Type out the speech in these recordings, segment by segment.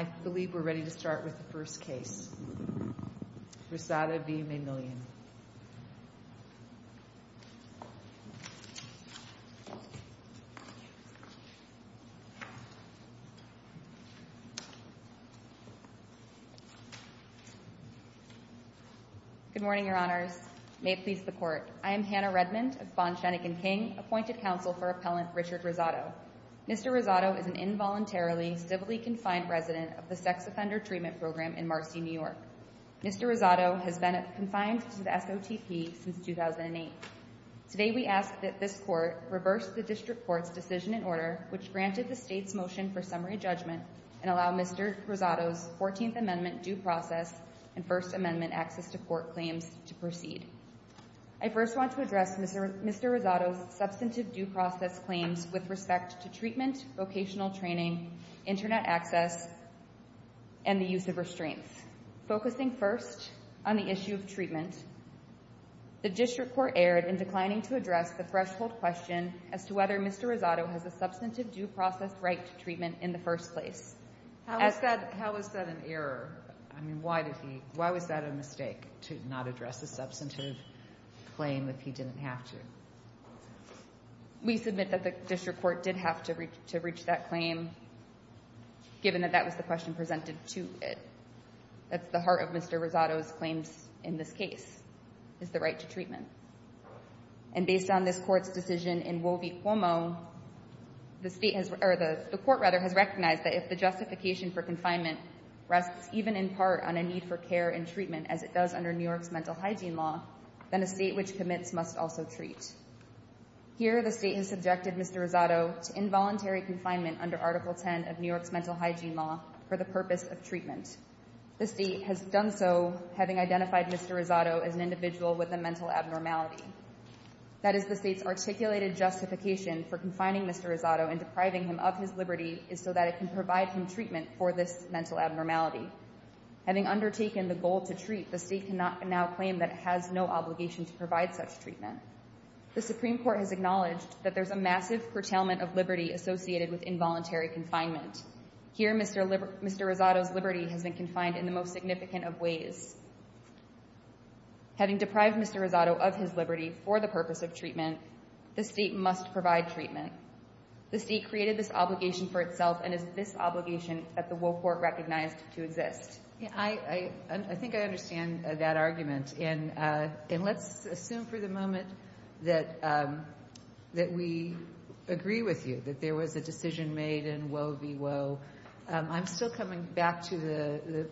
I believe we're ready to start with the first case, Rosado v. Maxymillian. Good morning, your honors. May it please the court. I am Hannah Redmond of Bond, Shenick and King, appointed counsel for Appellant Richard Rosado. Mr. Rosado is an involuntarily civilly-confined resident of the Sex Offender Treatment Program in Marcy, New York. Mr. Rosado has been confined to the SOTP since 2008. Today we ask that this court reverse the district court's decision and order, which granted the state's motion for summary judgment, and allow Mr. Rosado's 14th Amendment due process and First Amendment access to court claims to proceed. I first want to address Mr. Rosado's substantive due process claims with respect to treatment, vocational training, Internet access, and the use of restraints. Focusing first on the issue of treatment, the district court erred in declining to address the threshold question as to whether Mr. Rosado has a substantive due process right to treatment in the first place. How is that an error? I mean, why did he, why was that a mistake to not address the substantive claim if he didn't have to? We submit that the district court did have to reach that claim, given that that was the question presented to it. That's the heart of Mr. Rosado's claims in this case, is the right to treatment. And based on this court's decision in Woe v. Cuomo, the state has, or the court, rather, has recognized that if the justification for confinement rests even in part on a need for care and treatment, as it does under New York's mental hygiene law, then a state which commits must also treat. Here, the state has subjected Mr. Rosado to involuntary confinement under Article 10 of New York's mental hygiene law for the purpose of treatment. The state has done so, having identified Mr. Rosado as an individual with a mental abnormality. That is the state's articulated justification for confining Mr. Rosado and depriving him of his liberty is so that it can provide him treatment for this mental abnormality. Having undertaken the goal to treat, the state can now claim that it has no obligation to provide such treatment. The Supreme Court has acknowledged that there's a massive curtailment of liberty associated with involuntary confinement. Here, Mr. Rosado's liberty has been confined in the most significant of ways. Having deprived Mr. Rosado of his liberty for the purpose of treatment, the state must provide treatment. The state created this obligation for itself, and it's this obligation that the Woe Court recognized to exist. I think I understand that argument. And let's assume for the moment that we agree with you, that there was a decision made in Woe v. Woe. I'm still coming back to the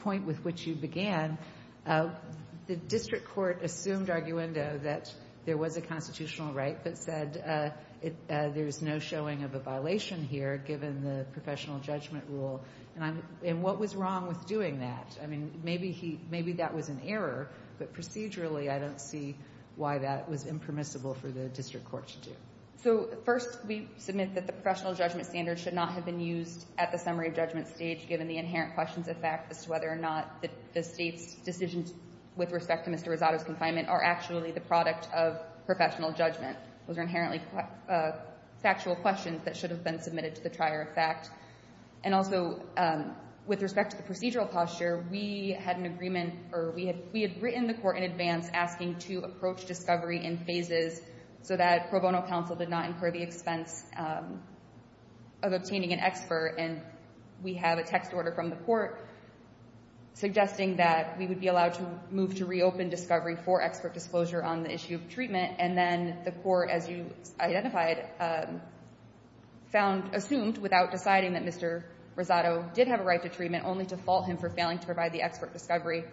point with which you began. The district court assumed arguendo that there was a constitutional right, but said there's no showing of a violation here, given the professional judgment rule. And what was wrong with doing that? I mean, maybe that was an error, but procedurally, I don't see why that was impermissible for the district court to do. So first, we submit that the professional judgment standard should not have been used at the summary judgment stage, given the inherent questions of fact as to whether or not the state's decisions with respect to Mr. Rosado's confinement are actually the product of professional judgment. Those are inherently factual questions that should have been submitted to the trier of fact. And also, with respect to the procedural posture, we had an agreement, or we had written the court in advance asking to approach discovery in phases so that pro bono counsel did not incur the expense of obtaining an expert. And we have a text order from the court suggesting that we would be allowed to move to reopen discovery for expert disclosure on the issue of treatment. And then the court, as you identified, assumed without deciding that Mr. Rosado did have a right to treatment, only to fault him for failing to provide the expert discovery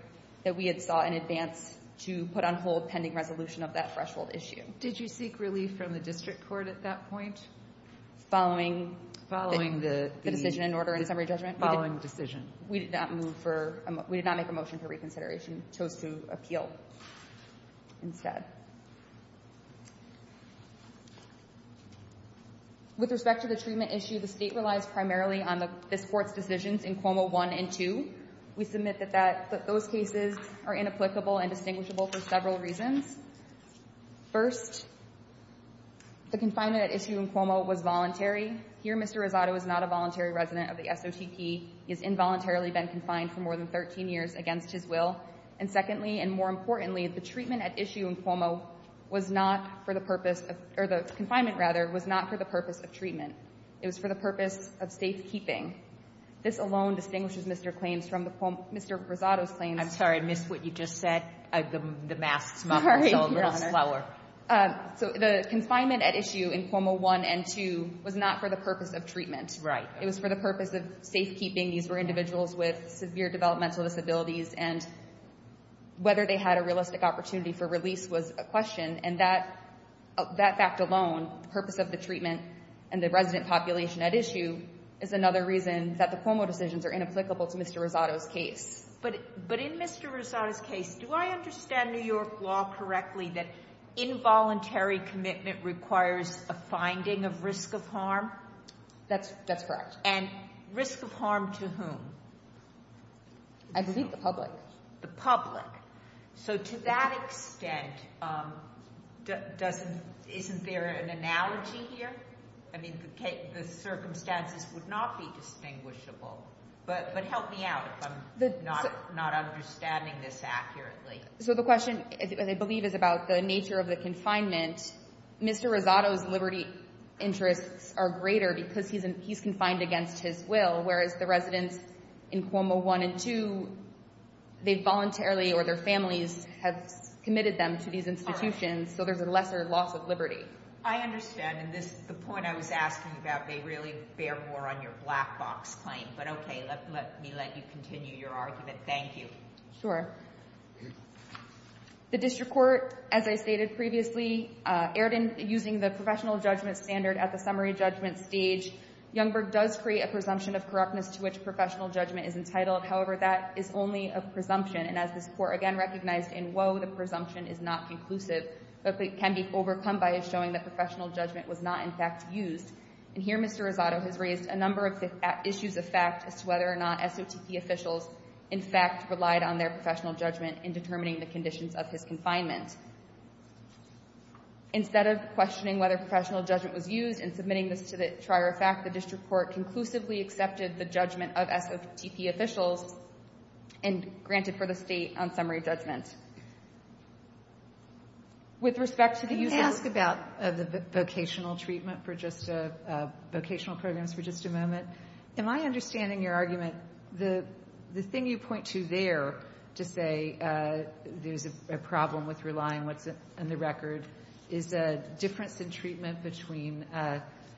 that we had sought in advance to put on hold pending resolution of that threshold issue. Did you seek relief from the district court at that point? Following the decision in order and summary judgment? Following decision. We did not move for, we did not make a motion for reconsideration. Chose to appeal instead. With respect to the treatment issue, the state relies primarily on this court's decisions in Cuomo 1 and 2. We submit that those cases are inapplicable and distinguishable for several reasons. First, the confinement at issue in Cuomo was voluntary. Here, Mr. Rosado is not a voluntary resident of the SOTP. He has involuntarily been confined for more than 13 years against his will. And secondly, and more importantly, the treatment at issue in Cuomo was not for the purpose of, or the confinement, rather, was not for the purpose of treatment. It was for the purpose of safekeeping. This alone distinguishes Mr. Claims from the Cuomo, Mr. Rosado's claims. I'm sorry, I missed what you just said. The mask's muffled, so a little slower. So the confinement at issue in Cuomo 1 and 2 was not for the purpose of treatment. Right. It was for the purpose of safekeeping. These were individuals with severe developmental disabilities, and whether they had a realistic opportunity for release was a question. And that fact alone, the purpose of the treatment and the resident population at issue is another reason that the Cuomo decisions are inapplicable to Mr. Rosado's case. But in Mr. Rosado's case, do I understand New York law correctly that involuntary commitment requires a finding of risk of harm? That's correct. And risk of harm to whom? I believe the public. The public. So to that extent, isn't there an analogy here? I mean, the circumstances would not be distinguishable. But help me out if I'm not understanding this accurately. So the question, I believe, is about the nature of the confinement. Mr. Rosado's liberty interests are greater because he's confined against his will, whereas the residents in Cuomo 1 and 2, they voluntarily or their families have committed them to these institutions, so there's a lesser loss of liberty. I understand. And the point I was asking about may really bear more on your black box claim. But OK, let me let you continue your argument. Thank you. Sure. The district court, as I stated previously, erred in using the professional judgment standard at the summary judgment stage. Youngberg does create a presumption of corruptness to which professional judgment is entitled. However, that is only a presumption. And as this court again recognized in Woe, the presumption is not conclusive, but can be overcome by showing that professional judgment was not, in fact, used. And here Mr. Rosado has raised a number of issues of fact as to whether or not SOTP officials, in fact, relied on their professional judgment in determining the conditions of his confinement. Instead of questioning whether professional judgment was used and submitting this to the trier of fact, the district court conclusively accepted the judgment of SOTP officials and granted for the State on summary judgment. With respect to the use of the vocational treatment for just vocational programs for just a moment, am I understanding your argument, the thing you point to there to say there's a problem with relying on what's in the record is a difference in treatment between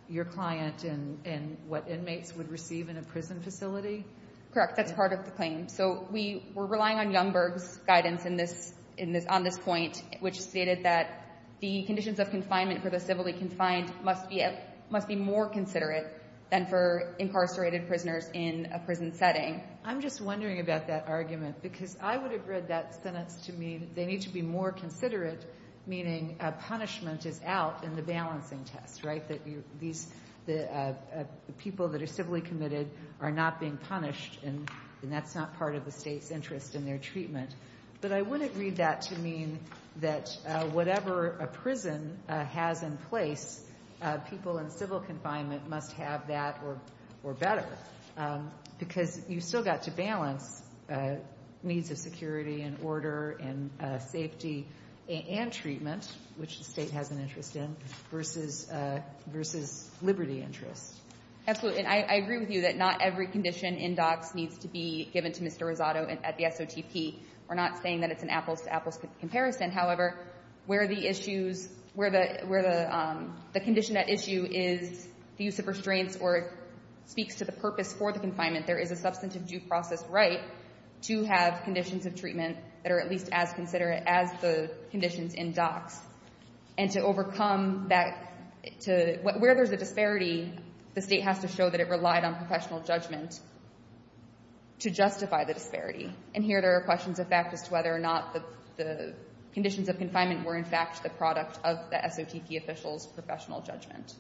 your client and what inmates would receive in a prison facility? Correct. That's part of the claim. So we were relying on Youngberg's guidance on this point, which stated that the conditions of confinement for the civilly confined must be more considerate than for incarcerated prisoners in a prison setting. I'm just wondering about that argument, because I would have read that sentence to mean they need to be more considerate, meaning a punishment is out in the balancing test, right, that these people that are civilly committed are not being punished and that's not part of the State's interest in their treatment. But I wouldn't read that to mean that whatever a prison has in place, people in civil confinement must have that or better, because you've still got to balance needs of security and order and safety and treatment, which the State has an interest in, versus liberty interests. Absolutely. And I agree with you that not every condition in DOCS needs to be given to the State. We're not saying that it's an apples to apples comparison. However, where the issues, where the condition at issue is the use of restraints or speaks to the purpose for the confinement, there is a substantive due process right to have conditions of treatment that are at least as considerate as the conditions in DOCS. And to overcome that, to, where there's a disparity, the State has to show that it relied on professional judgment to justify the disparity. And here there are questions of fact as to whether or not the conditions of confinement were in fact the product of the SOTP official's professional judgment.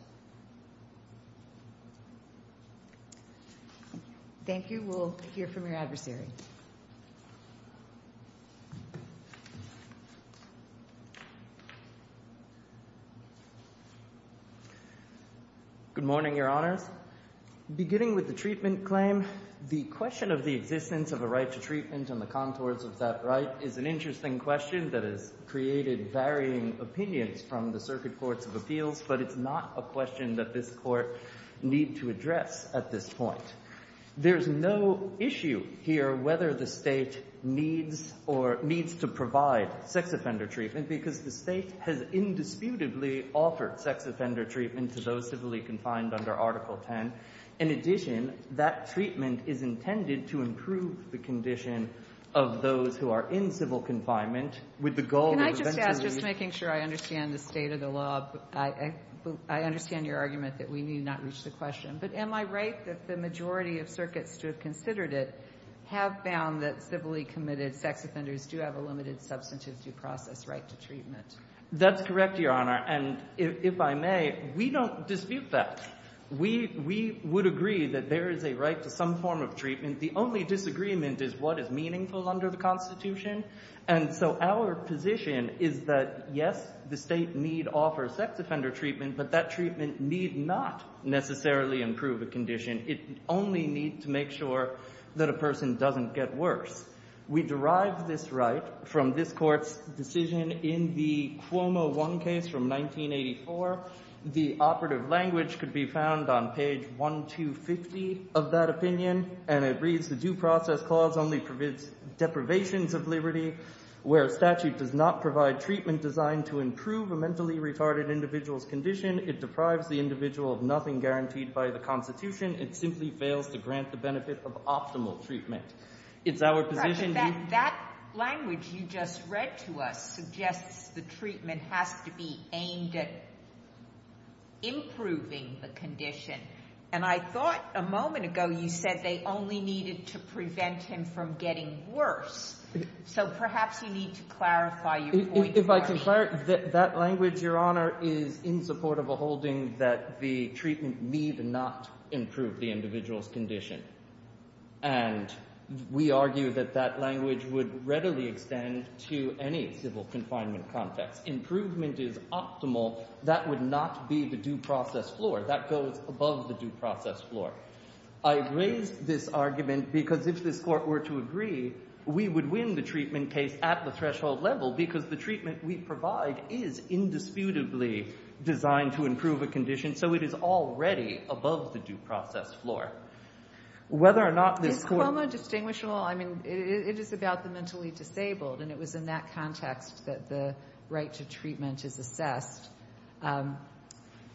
Thank you. We'll hear from your adversary. Good morning, Your Honors. Beginning with the treatment claim, the question of the existence of a right to treatment on the contours of that right is an interesting question that has created varying opinions from the Circuit Courts of Appeals, but it's not a question that this Court need to address at this point. There's no issue here whether the State needs or needs to provide sex offender treatment, because the State has indisputably offered sex offender treatment to those civilly confined under Article 10. In addition, that treatment is intended to improve the condition of those who are in civil confinement with the goal of eventually— Can I just ask, just making sure I understand the state of the law, I understand your argument that we need not reach the question, but am I right that the majority of circuits to have considered it have found that civilly committed sex offenders do have a limited substantive due process right to treatment? That's correct, Your Honor. And if I may, we don't dispute that. We would agree that there is a right to some form of treatment. The only disagreement is what is meaningful under the Constitution. And so our position is that, yes, the State need offer sex offender treatment, but that treatment need not necessarily improve a condition. It only need to make sure that a person doesn't get worse. We derive this right from this Court's decision in the Cuomo 1 case from 1984. The operative language could be found on page 1250 of that opinion, and it reads, the due process clause only permits deprivations of liberty. Where statute does not provide treatment designed to improve a mentally retarded individual's condition, it deprives the individual of nothing guaranteed by the Constitution. It simply fails to grant the benefit of optimal treatment. It's our position— That language you just read to us suggests the treatment has to be aimed at improving the condition. And I thought a moment ago you said they only needed to prevent him from getting worse. So perhaps you need to clarify your point. If I can clarify, that language, Your Honor, is in support of a holding that the treatment need not improve the individual's condition. And we argue that that language would readily extend to any civil confinement context. Improvement is optimal. That would not be the due process floor. That goes above the due process floor. I raise this argument because if this Court were to agree, we would win the treatment case at the threshold level because the treatment we provide is indisputably designed to improve a condition. So it is already above the due process floor. Whether or not this Court— Is Cuomo distinguishable? I mean, it is about the mentally disabled. And it was in that context that the right to treatment is assessed.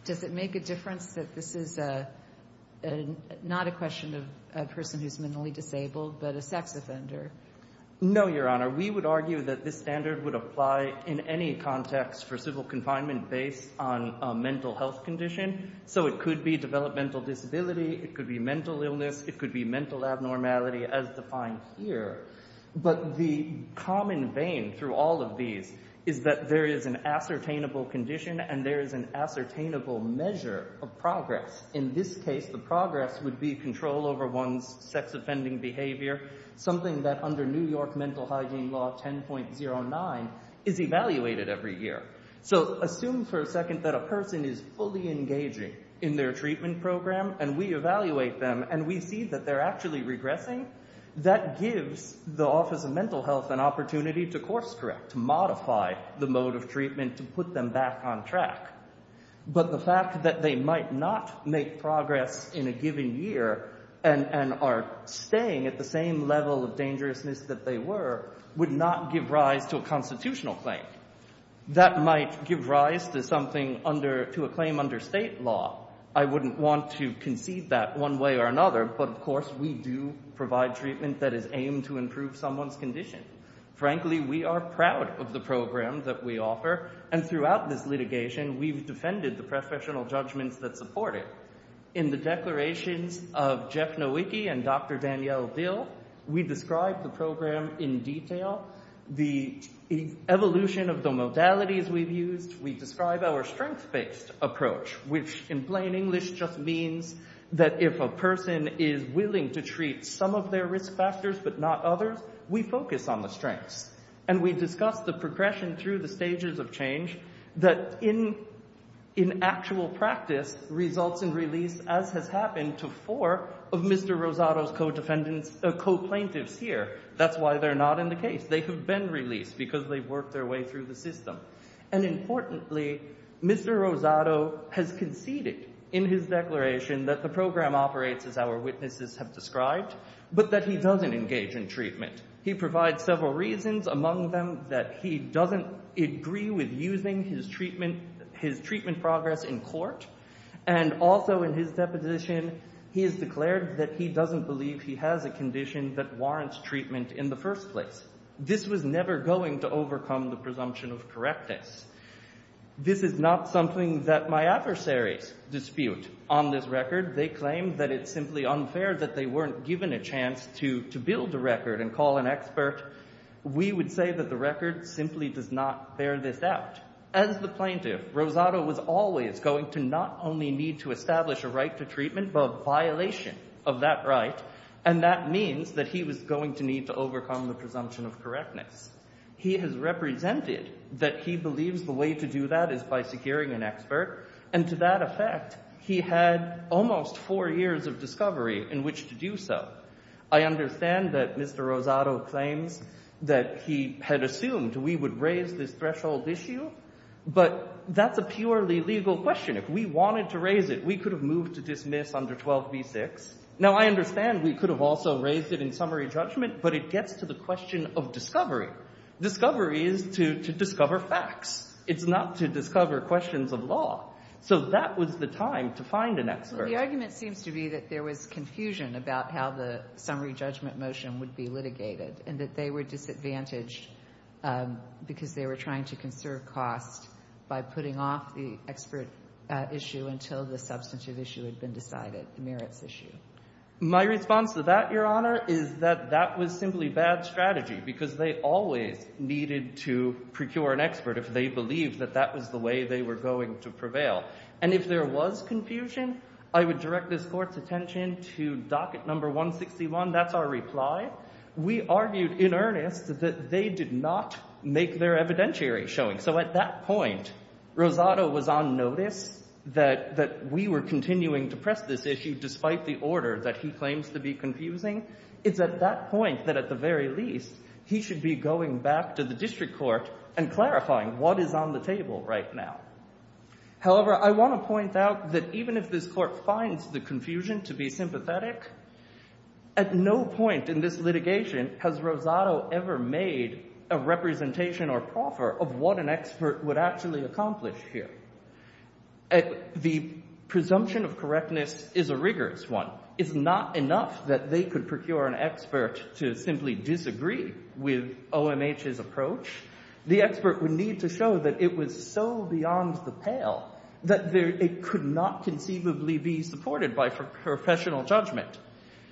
Does it make a difference that this is not a question of a person who's mentally disabled but a sex offender? No, Your Honor. We would argue that this standard would apply in any context for civil confinement based on a mental health condition. So it could be developmental disability. It could be mental illness. It could be mental abnormality as defined here. But the common vein through all of these is that there is an ascertainable condition and there is an ascertainable measure of progress. In this case, the progress would be control over one's sex offending behavior, something that under New York Mental Hygiene Law 10.09 is evaluated every year. So assume for a second that a person is fully engaging in their treatment program and we that they're actually regressing, that gives the Office of Mental Health an opportunity to course correct, to modify the mode of treatment, to put them back on track. But the fact that they might not make progress in a given year and are staying at the same level of dangerousness that they were would not give rise to a constitutional claim. That might give rise to something under—to a claim under state law. I wouldn't want to concede that one way or another. But of course, we do provide treatment that is aimed to improve someone's condition. Frankly, we are proud of the program that we offer. And throughout this litigation, we've defended the professional judgments that support it. In the declarations of Jeff Nowicki and Dr. Danielle Dill, we describe the program in detail, the evolution of the modalities we've used. We describe our strength-based approach, which in plain English just means that if a person is willing to treat some of their risk factors but not others, we focus on the strengths. And we discuss the progression through the stages of change that in actual practice results in release, as has happened to four of Mr. Rosado's co-defendants—co-plaintiffs here. That's why they're not in the case. They have been released because they've worked their way through the system. And importantly, Mr. Rosado has conceded in his declaration that the program operates as our witnesses have described, but that he doesn't engage in treatment. He provides several reasons, among them that he doesn't agree with using his treatment progress in court. And also in his deposition, he has declared that he doesn't believe he has a condition that warrants treatment in the first place. This was never going to overcome the presumption of correctness. This is not something that my adversaries dispute on this record. They claim that it's simply unfair that they weren't given a chance to build a record and call an expert. We would say that the record simply does not bear this out. As the plaintiff, Rosado was always going to not only need to establish a right to treatment but a violation of that right. And that means that he was going to need to overcome the presumption of correctness. He has represented that he believes the way to do that is by securing an expert. And to that effect, he had almost four years of discovery in which to do so. I understand that Mr. Rosado claims that he had assumed we would raise this threshold issue, but that's a purely legal question. If we wanted to raise it, we could have moved to dismiss under 12b-6. Now, I understand we could have also raised it in summary judgment, but it gets to the question of discovery. Discovery is to discover facts. It's not to discover questions of law. So that was the time to find an expert. Well, the argument seems to be that there was confusion about how the summary judgment motion would be litigated and that they were disadvantaged because they were trying to conserve cost by putting off the expert issue until the substantive issue had been decided, the merits issue. My response to that, Your Honor, is that that was simply bad strategy because they always needed to procure an expert if they believed that that was the way they were going to prevail. And if there was confusion, I would direct this Court's attention to docket number 161. That's our reply. We argued in earnest that they did not make their evidentiary showing. So at that point, Rosado was on notice that we were continuing to press this issue despite the order that he claims to be confusing. It's at that point that, at the very least, he should be going back to the district court and clarifying what is on the table right now. However, I want to point out that even if this Court finds the confusion to be sympathetic, at no point in this litigation has Rosado ever made a representation or proffer of what an expert would actually accomplish here. The presumption of correctness is a rigorous one. It's not enough that they could procure an expert to simply disagree with OMH's approach. The expert would need to show that it was so beyond the pale that it could not conceivably be supported by professional judgment.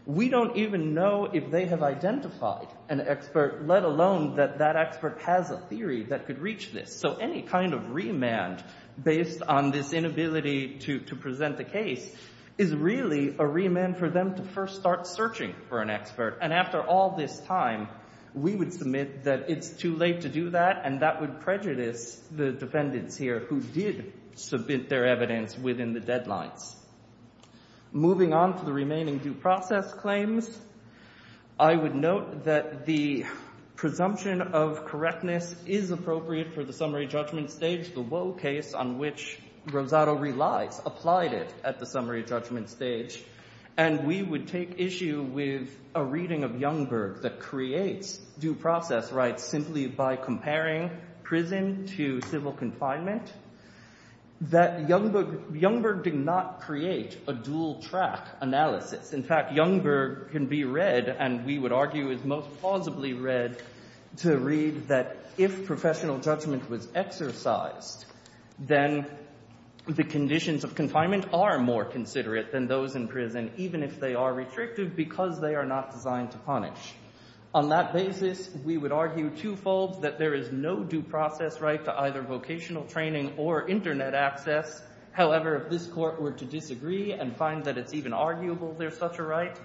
We don't even know if they have identified an expert, let alone that that expert has a theory that could reach this. So any kind of remand based on this inability to present the case is really a remand for them to first start searching for an expert. And after all this time, we would submit that it's too late to do that, and that would prejudice the defendants here who did submit their evidence within the deadlines. Moving on to the remaining due process claims, I would note that the presumption of correctness is appropriate for the summary judgment stage. The Woe case, on which Rosado relies, applied it at the summary judgment stage. And we would take issue with a reading of Youngberg that creates due process rights simply by comparing prison to civil confinement. That Youngberg did not create a dual track analysis. In fact, Youngberg can be read, and we would argue is most plausibly read, to read that if professional judgment was exercised, then the conditions of confinement are more considerate than those in prison, even if they are restrictive because they are not designed to punish. On that basis, we would argue twofold that there is no due process right to either vocational training or internet access. However, if this court were to disagree and find that it's even arguable there's such a right,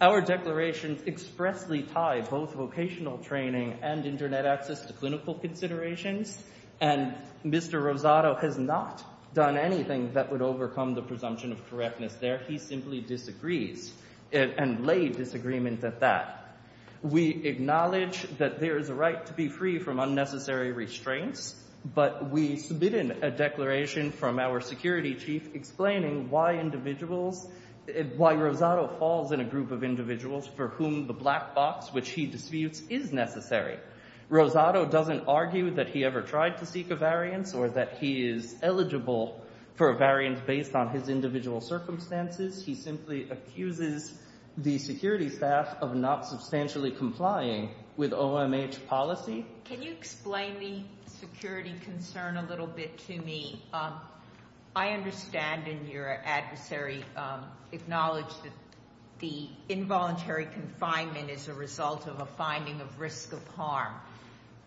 our declarations expressly tie both vocational training and internet access to clinical considerations, and Mr. Rosado has not done anything that would overcome the presumption of correctness there. He simply disagrees and laid disagreement at that. We acknowledge that there is a right to be free from unnecessary restraints, but we have our security chief explaining why individuals, why Rosado falls in a group of individuals for whom the black box, which he disputes, is necessary. Rosado doesn't argue that he ever tried to seek a variance or that he is eligible for a variance based on his individual circumstances. He simply accuses the security staff of not substantially complying with OMH policy. Can you explain the security concern a little bit to me? I understand and your adversary acknowledged that the involuntary confinement is a result of a finding of risk of harm,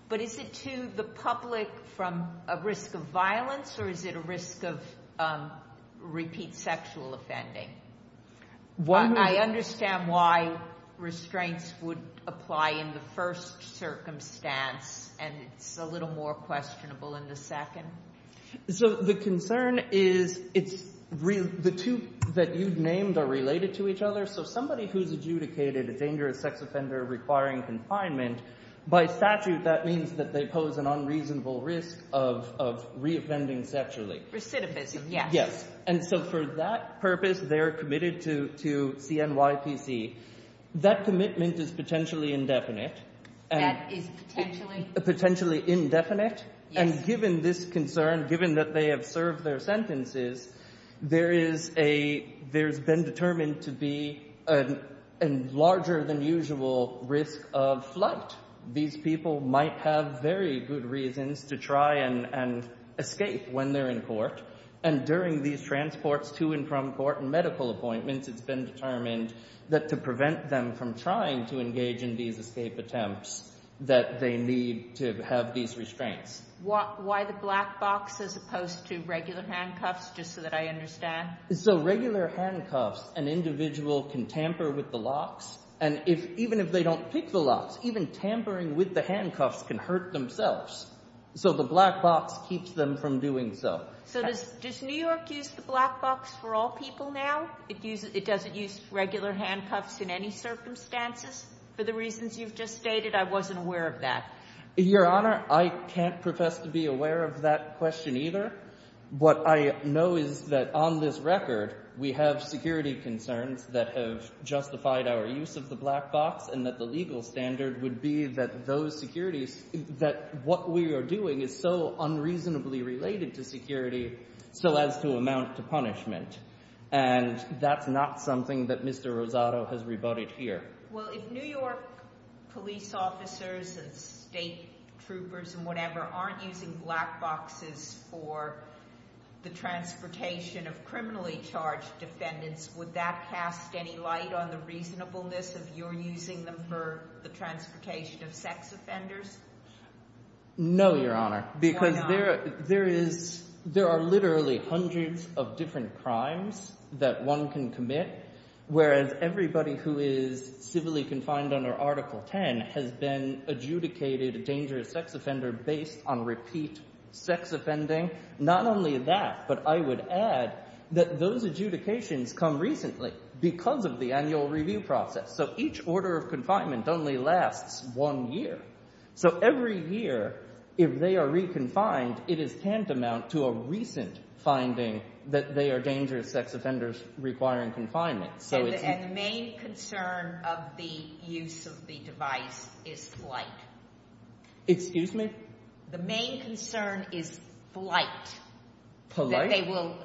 but is it to the public from a risk of violence or is it a risk of repeat sexual offending? I understand why restraints would apply in the first circumstance and it's a little more questionable in the second. So the concern is the two that you've named are related to each other. So somebody who's adjudicated a dangerous sex offender requiring confinement, by statute that means that they pose an unreasonable risk of reoffending sexually. Recidivism, yes. And so for that purpose, they're committed to CNYPC. That commitment is potentially indefinite. That is potentially? Potentially indefinite. And given this concern, given that they have served their sentences, there's been determined to be a larger than usual risk of flight. These people might have very good reasons to try and escape when they're in court. And during these transports to and from court and medical appointments, it's been determined that to prevent them from trying to engage in these escape attempts, that they need to have these restraints. Why the black box as opposed to regular handcuffs, just so that I understand? So regular handcuffs, an individual can tamper with the locks and even if they don't pick the locks, even tampering with the handcuffs can hurt themselves. So the black box keeps them from doing so. So does New York use the black box for all people now? It doesn't use regular handcuffs in any circumstances? For the reasons you've just stated, I wasn't aware of that. Your Honor, I can't profess to be aware of that question either. What I know is that on this record, we have security concerns that have justified our use of the black box and that the legal standard would be that those securities, that what we are doing is so unreasonably related to security, so as to amount to punishment. And that's not something that Mr. Rosado has rebutted here. Well, if New York police officers and state troopers and whatever aren't using black boxes for the transportation of criminally charged defendants, would that cast any light on the reasonableness of your using them for the transportation of sex offenders? No, Your Honor, because there are literally hundreds of different crimes that one can commit, whereas everybody who is civilly confined under Article 10 has been adjudicated a dangerous sex offender based on repeat sex offending. Not only that, but I would add that those adjudications come recently because of the annual review process. So each order of confinement only lasts one year. So every year, if they are re-confined, it is tantamount to a recent finding that they are dangerous sex offenders requiring confinement. And the main concern of the use of the device is flight. Excuse me? The main concern is flight. Polite? That they will...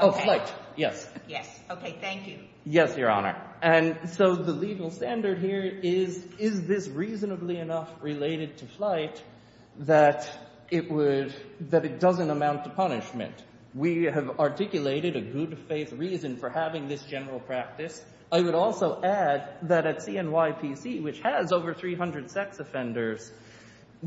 Oh, flight, yes. Yes. Okay, thank you. Yes, Your Honor. And so the legal standard here is, is this reasonably enough related to flight that it would... that it doesn't amount to punishment? We have articulated a good faith reason for having this general practice. I would also add that at CNYPC, which has over 300 sex offenders,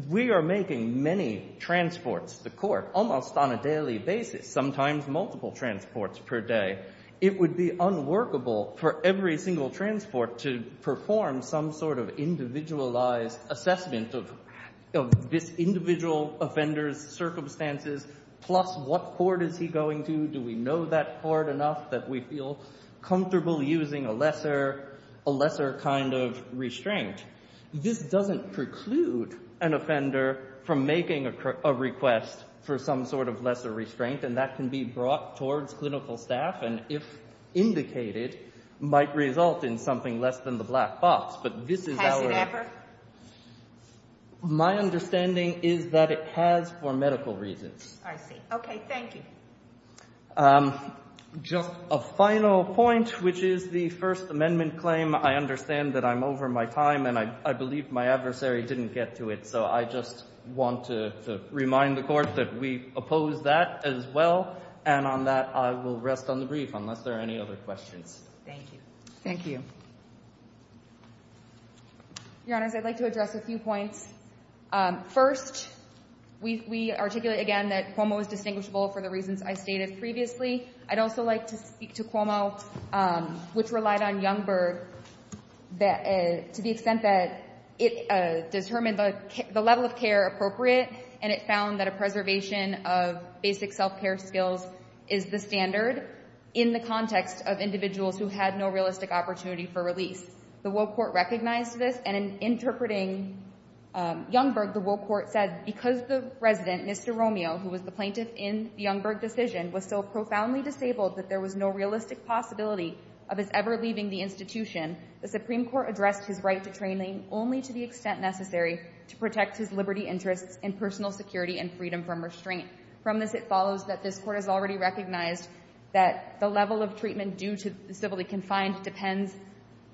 we are making many transports to court almost on a daily basis, sometimes multiple transports per day. It would be unworkable for every single transport to perform some sort of individualized assessment of this individual offender's circumstances. Plus, what court is he going to? Do we know that court enough that we feel comfortable using a lesser kind of restraint? This doesn't preclude an offender from making a request for some sort of lesser restraint, and that can be brought towards clinical staff, and if indicated, might result in something less than the black box. But this is our... Has it ever? My understanding is that it has for medical reasons. I see. Okay, thank you. Just a final point, which is the First Amendment claim. I understand that I'm over my time, and I believe my adversary didn't get to it. I just want to remind the Court that we oppose that as well, and on that, I will rest on the brief, unless there are any other questions. Thank you. Thank you. Your Honors, I'd like to address a few points. First, we articulate, again, that Cuomo is distinguishable for the reasons I stated previously. I'd also like to speak to Cuomo, which relied on Youngberg to the extent that it determined the level of care appropriate, and it found that a preservation of basic self-care skills is the standard in the context of individuals who had no realistic opportunity for release. The Will Court recognized this, and in interpreting Youngberg, the Will Court said, because the resident, Mr. Romeo, who was the plaintiff in the Youngberg decision, was so profoundly disabled that there was no realistic possibility of his ever leaving the institution, the Supreme Court addressed his right to training only to the extent necessary to protect his liberty interests and personal security and freedom from restraint. From this, it follows that this Court has already recognized that the level of treatment due to civility confined depends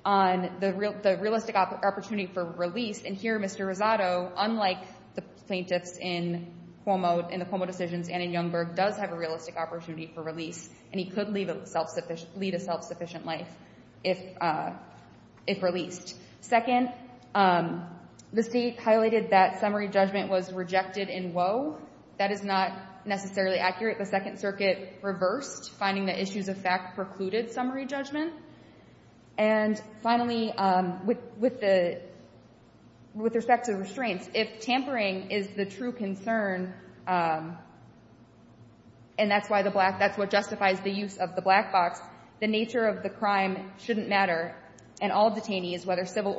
on the realistic opportunity for release, and here, Mr. Rosado, unlike the plaintiffs in Cuomo, in the Cuomo decisions and in Youngberg, does have a realistic opportunity for release, and he could lead a self-sufficient life if released. Second, the State highlighted that summary judgment was rejected in Woe. That is not necessarily accurate. The Second Circuit reversed, finding that issues of fact precluded summary judgment. And finally, with respect to restraints, if tampering is the true concern, and that's what justifies the use of the black box, the nature of the crime shouldn't matter, and all detainees, whether civilly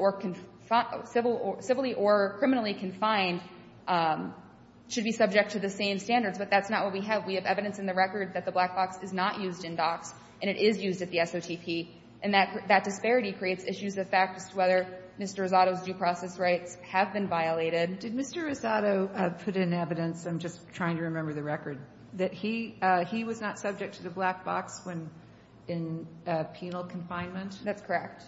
or criminally confined, should be subject to the same standards, but that's not what we have. We have evidence in the record that the black box is not used in docks, and it is used at the SOTP, and that disparity creates issues of fact as to whether Mr. Rosado's due process rights have been violated. Did Mr. Rosado put in evidence, I'm just trying to remember the record, that he was not subject to the black box when in penal confinement? That's correct.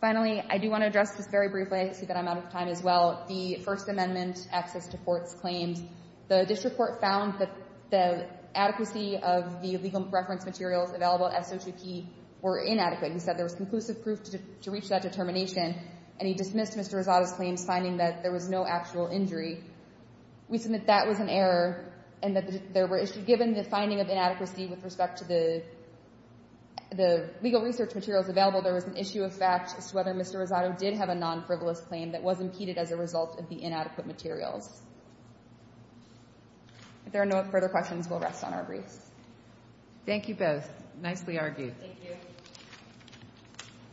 Finally, I do want to address this very briefly. I see that I'm out of time as well. The First Amendment access to courts claims, the district court found that the adequacy of the legal reference materials available at SOTP were inadequate. He said there was conclusive proof to reach that determination, and he dismissed Mr. Rosado's claims, finding that there was no actual injury. We submit that was an error, and that there were issues. Given the finding of inadequacy with respect to the legal research materials available, there was an issue of fact as to whether Mr. Rosado did have a non-frivolous claim that was impeded as a result of the inadequate materials. If there are no further questions, we'll rest on our briefs. Thank you both. Nicely argued.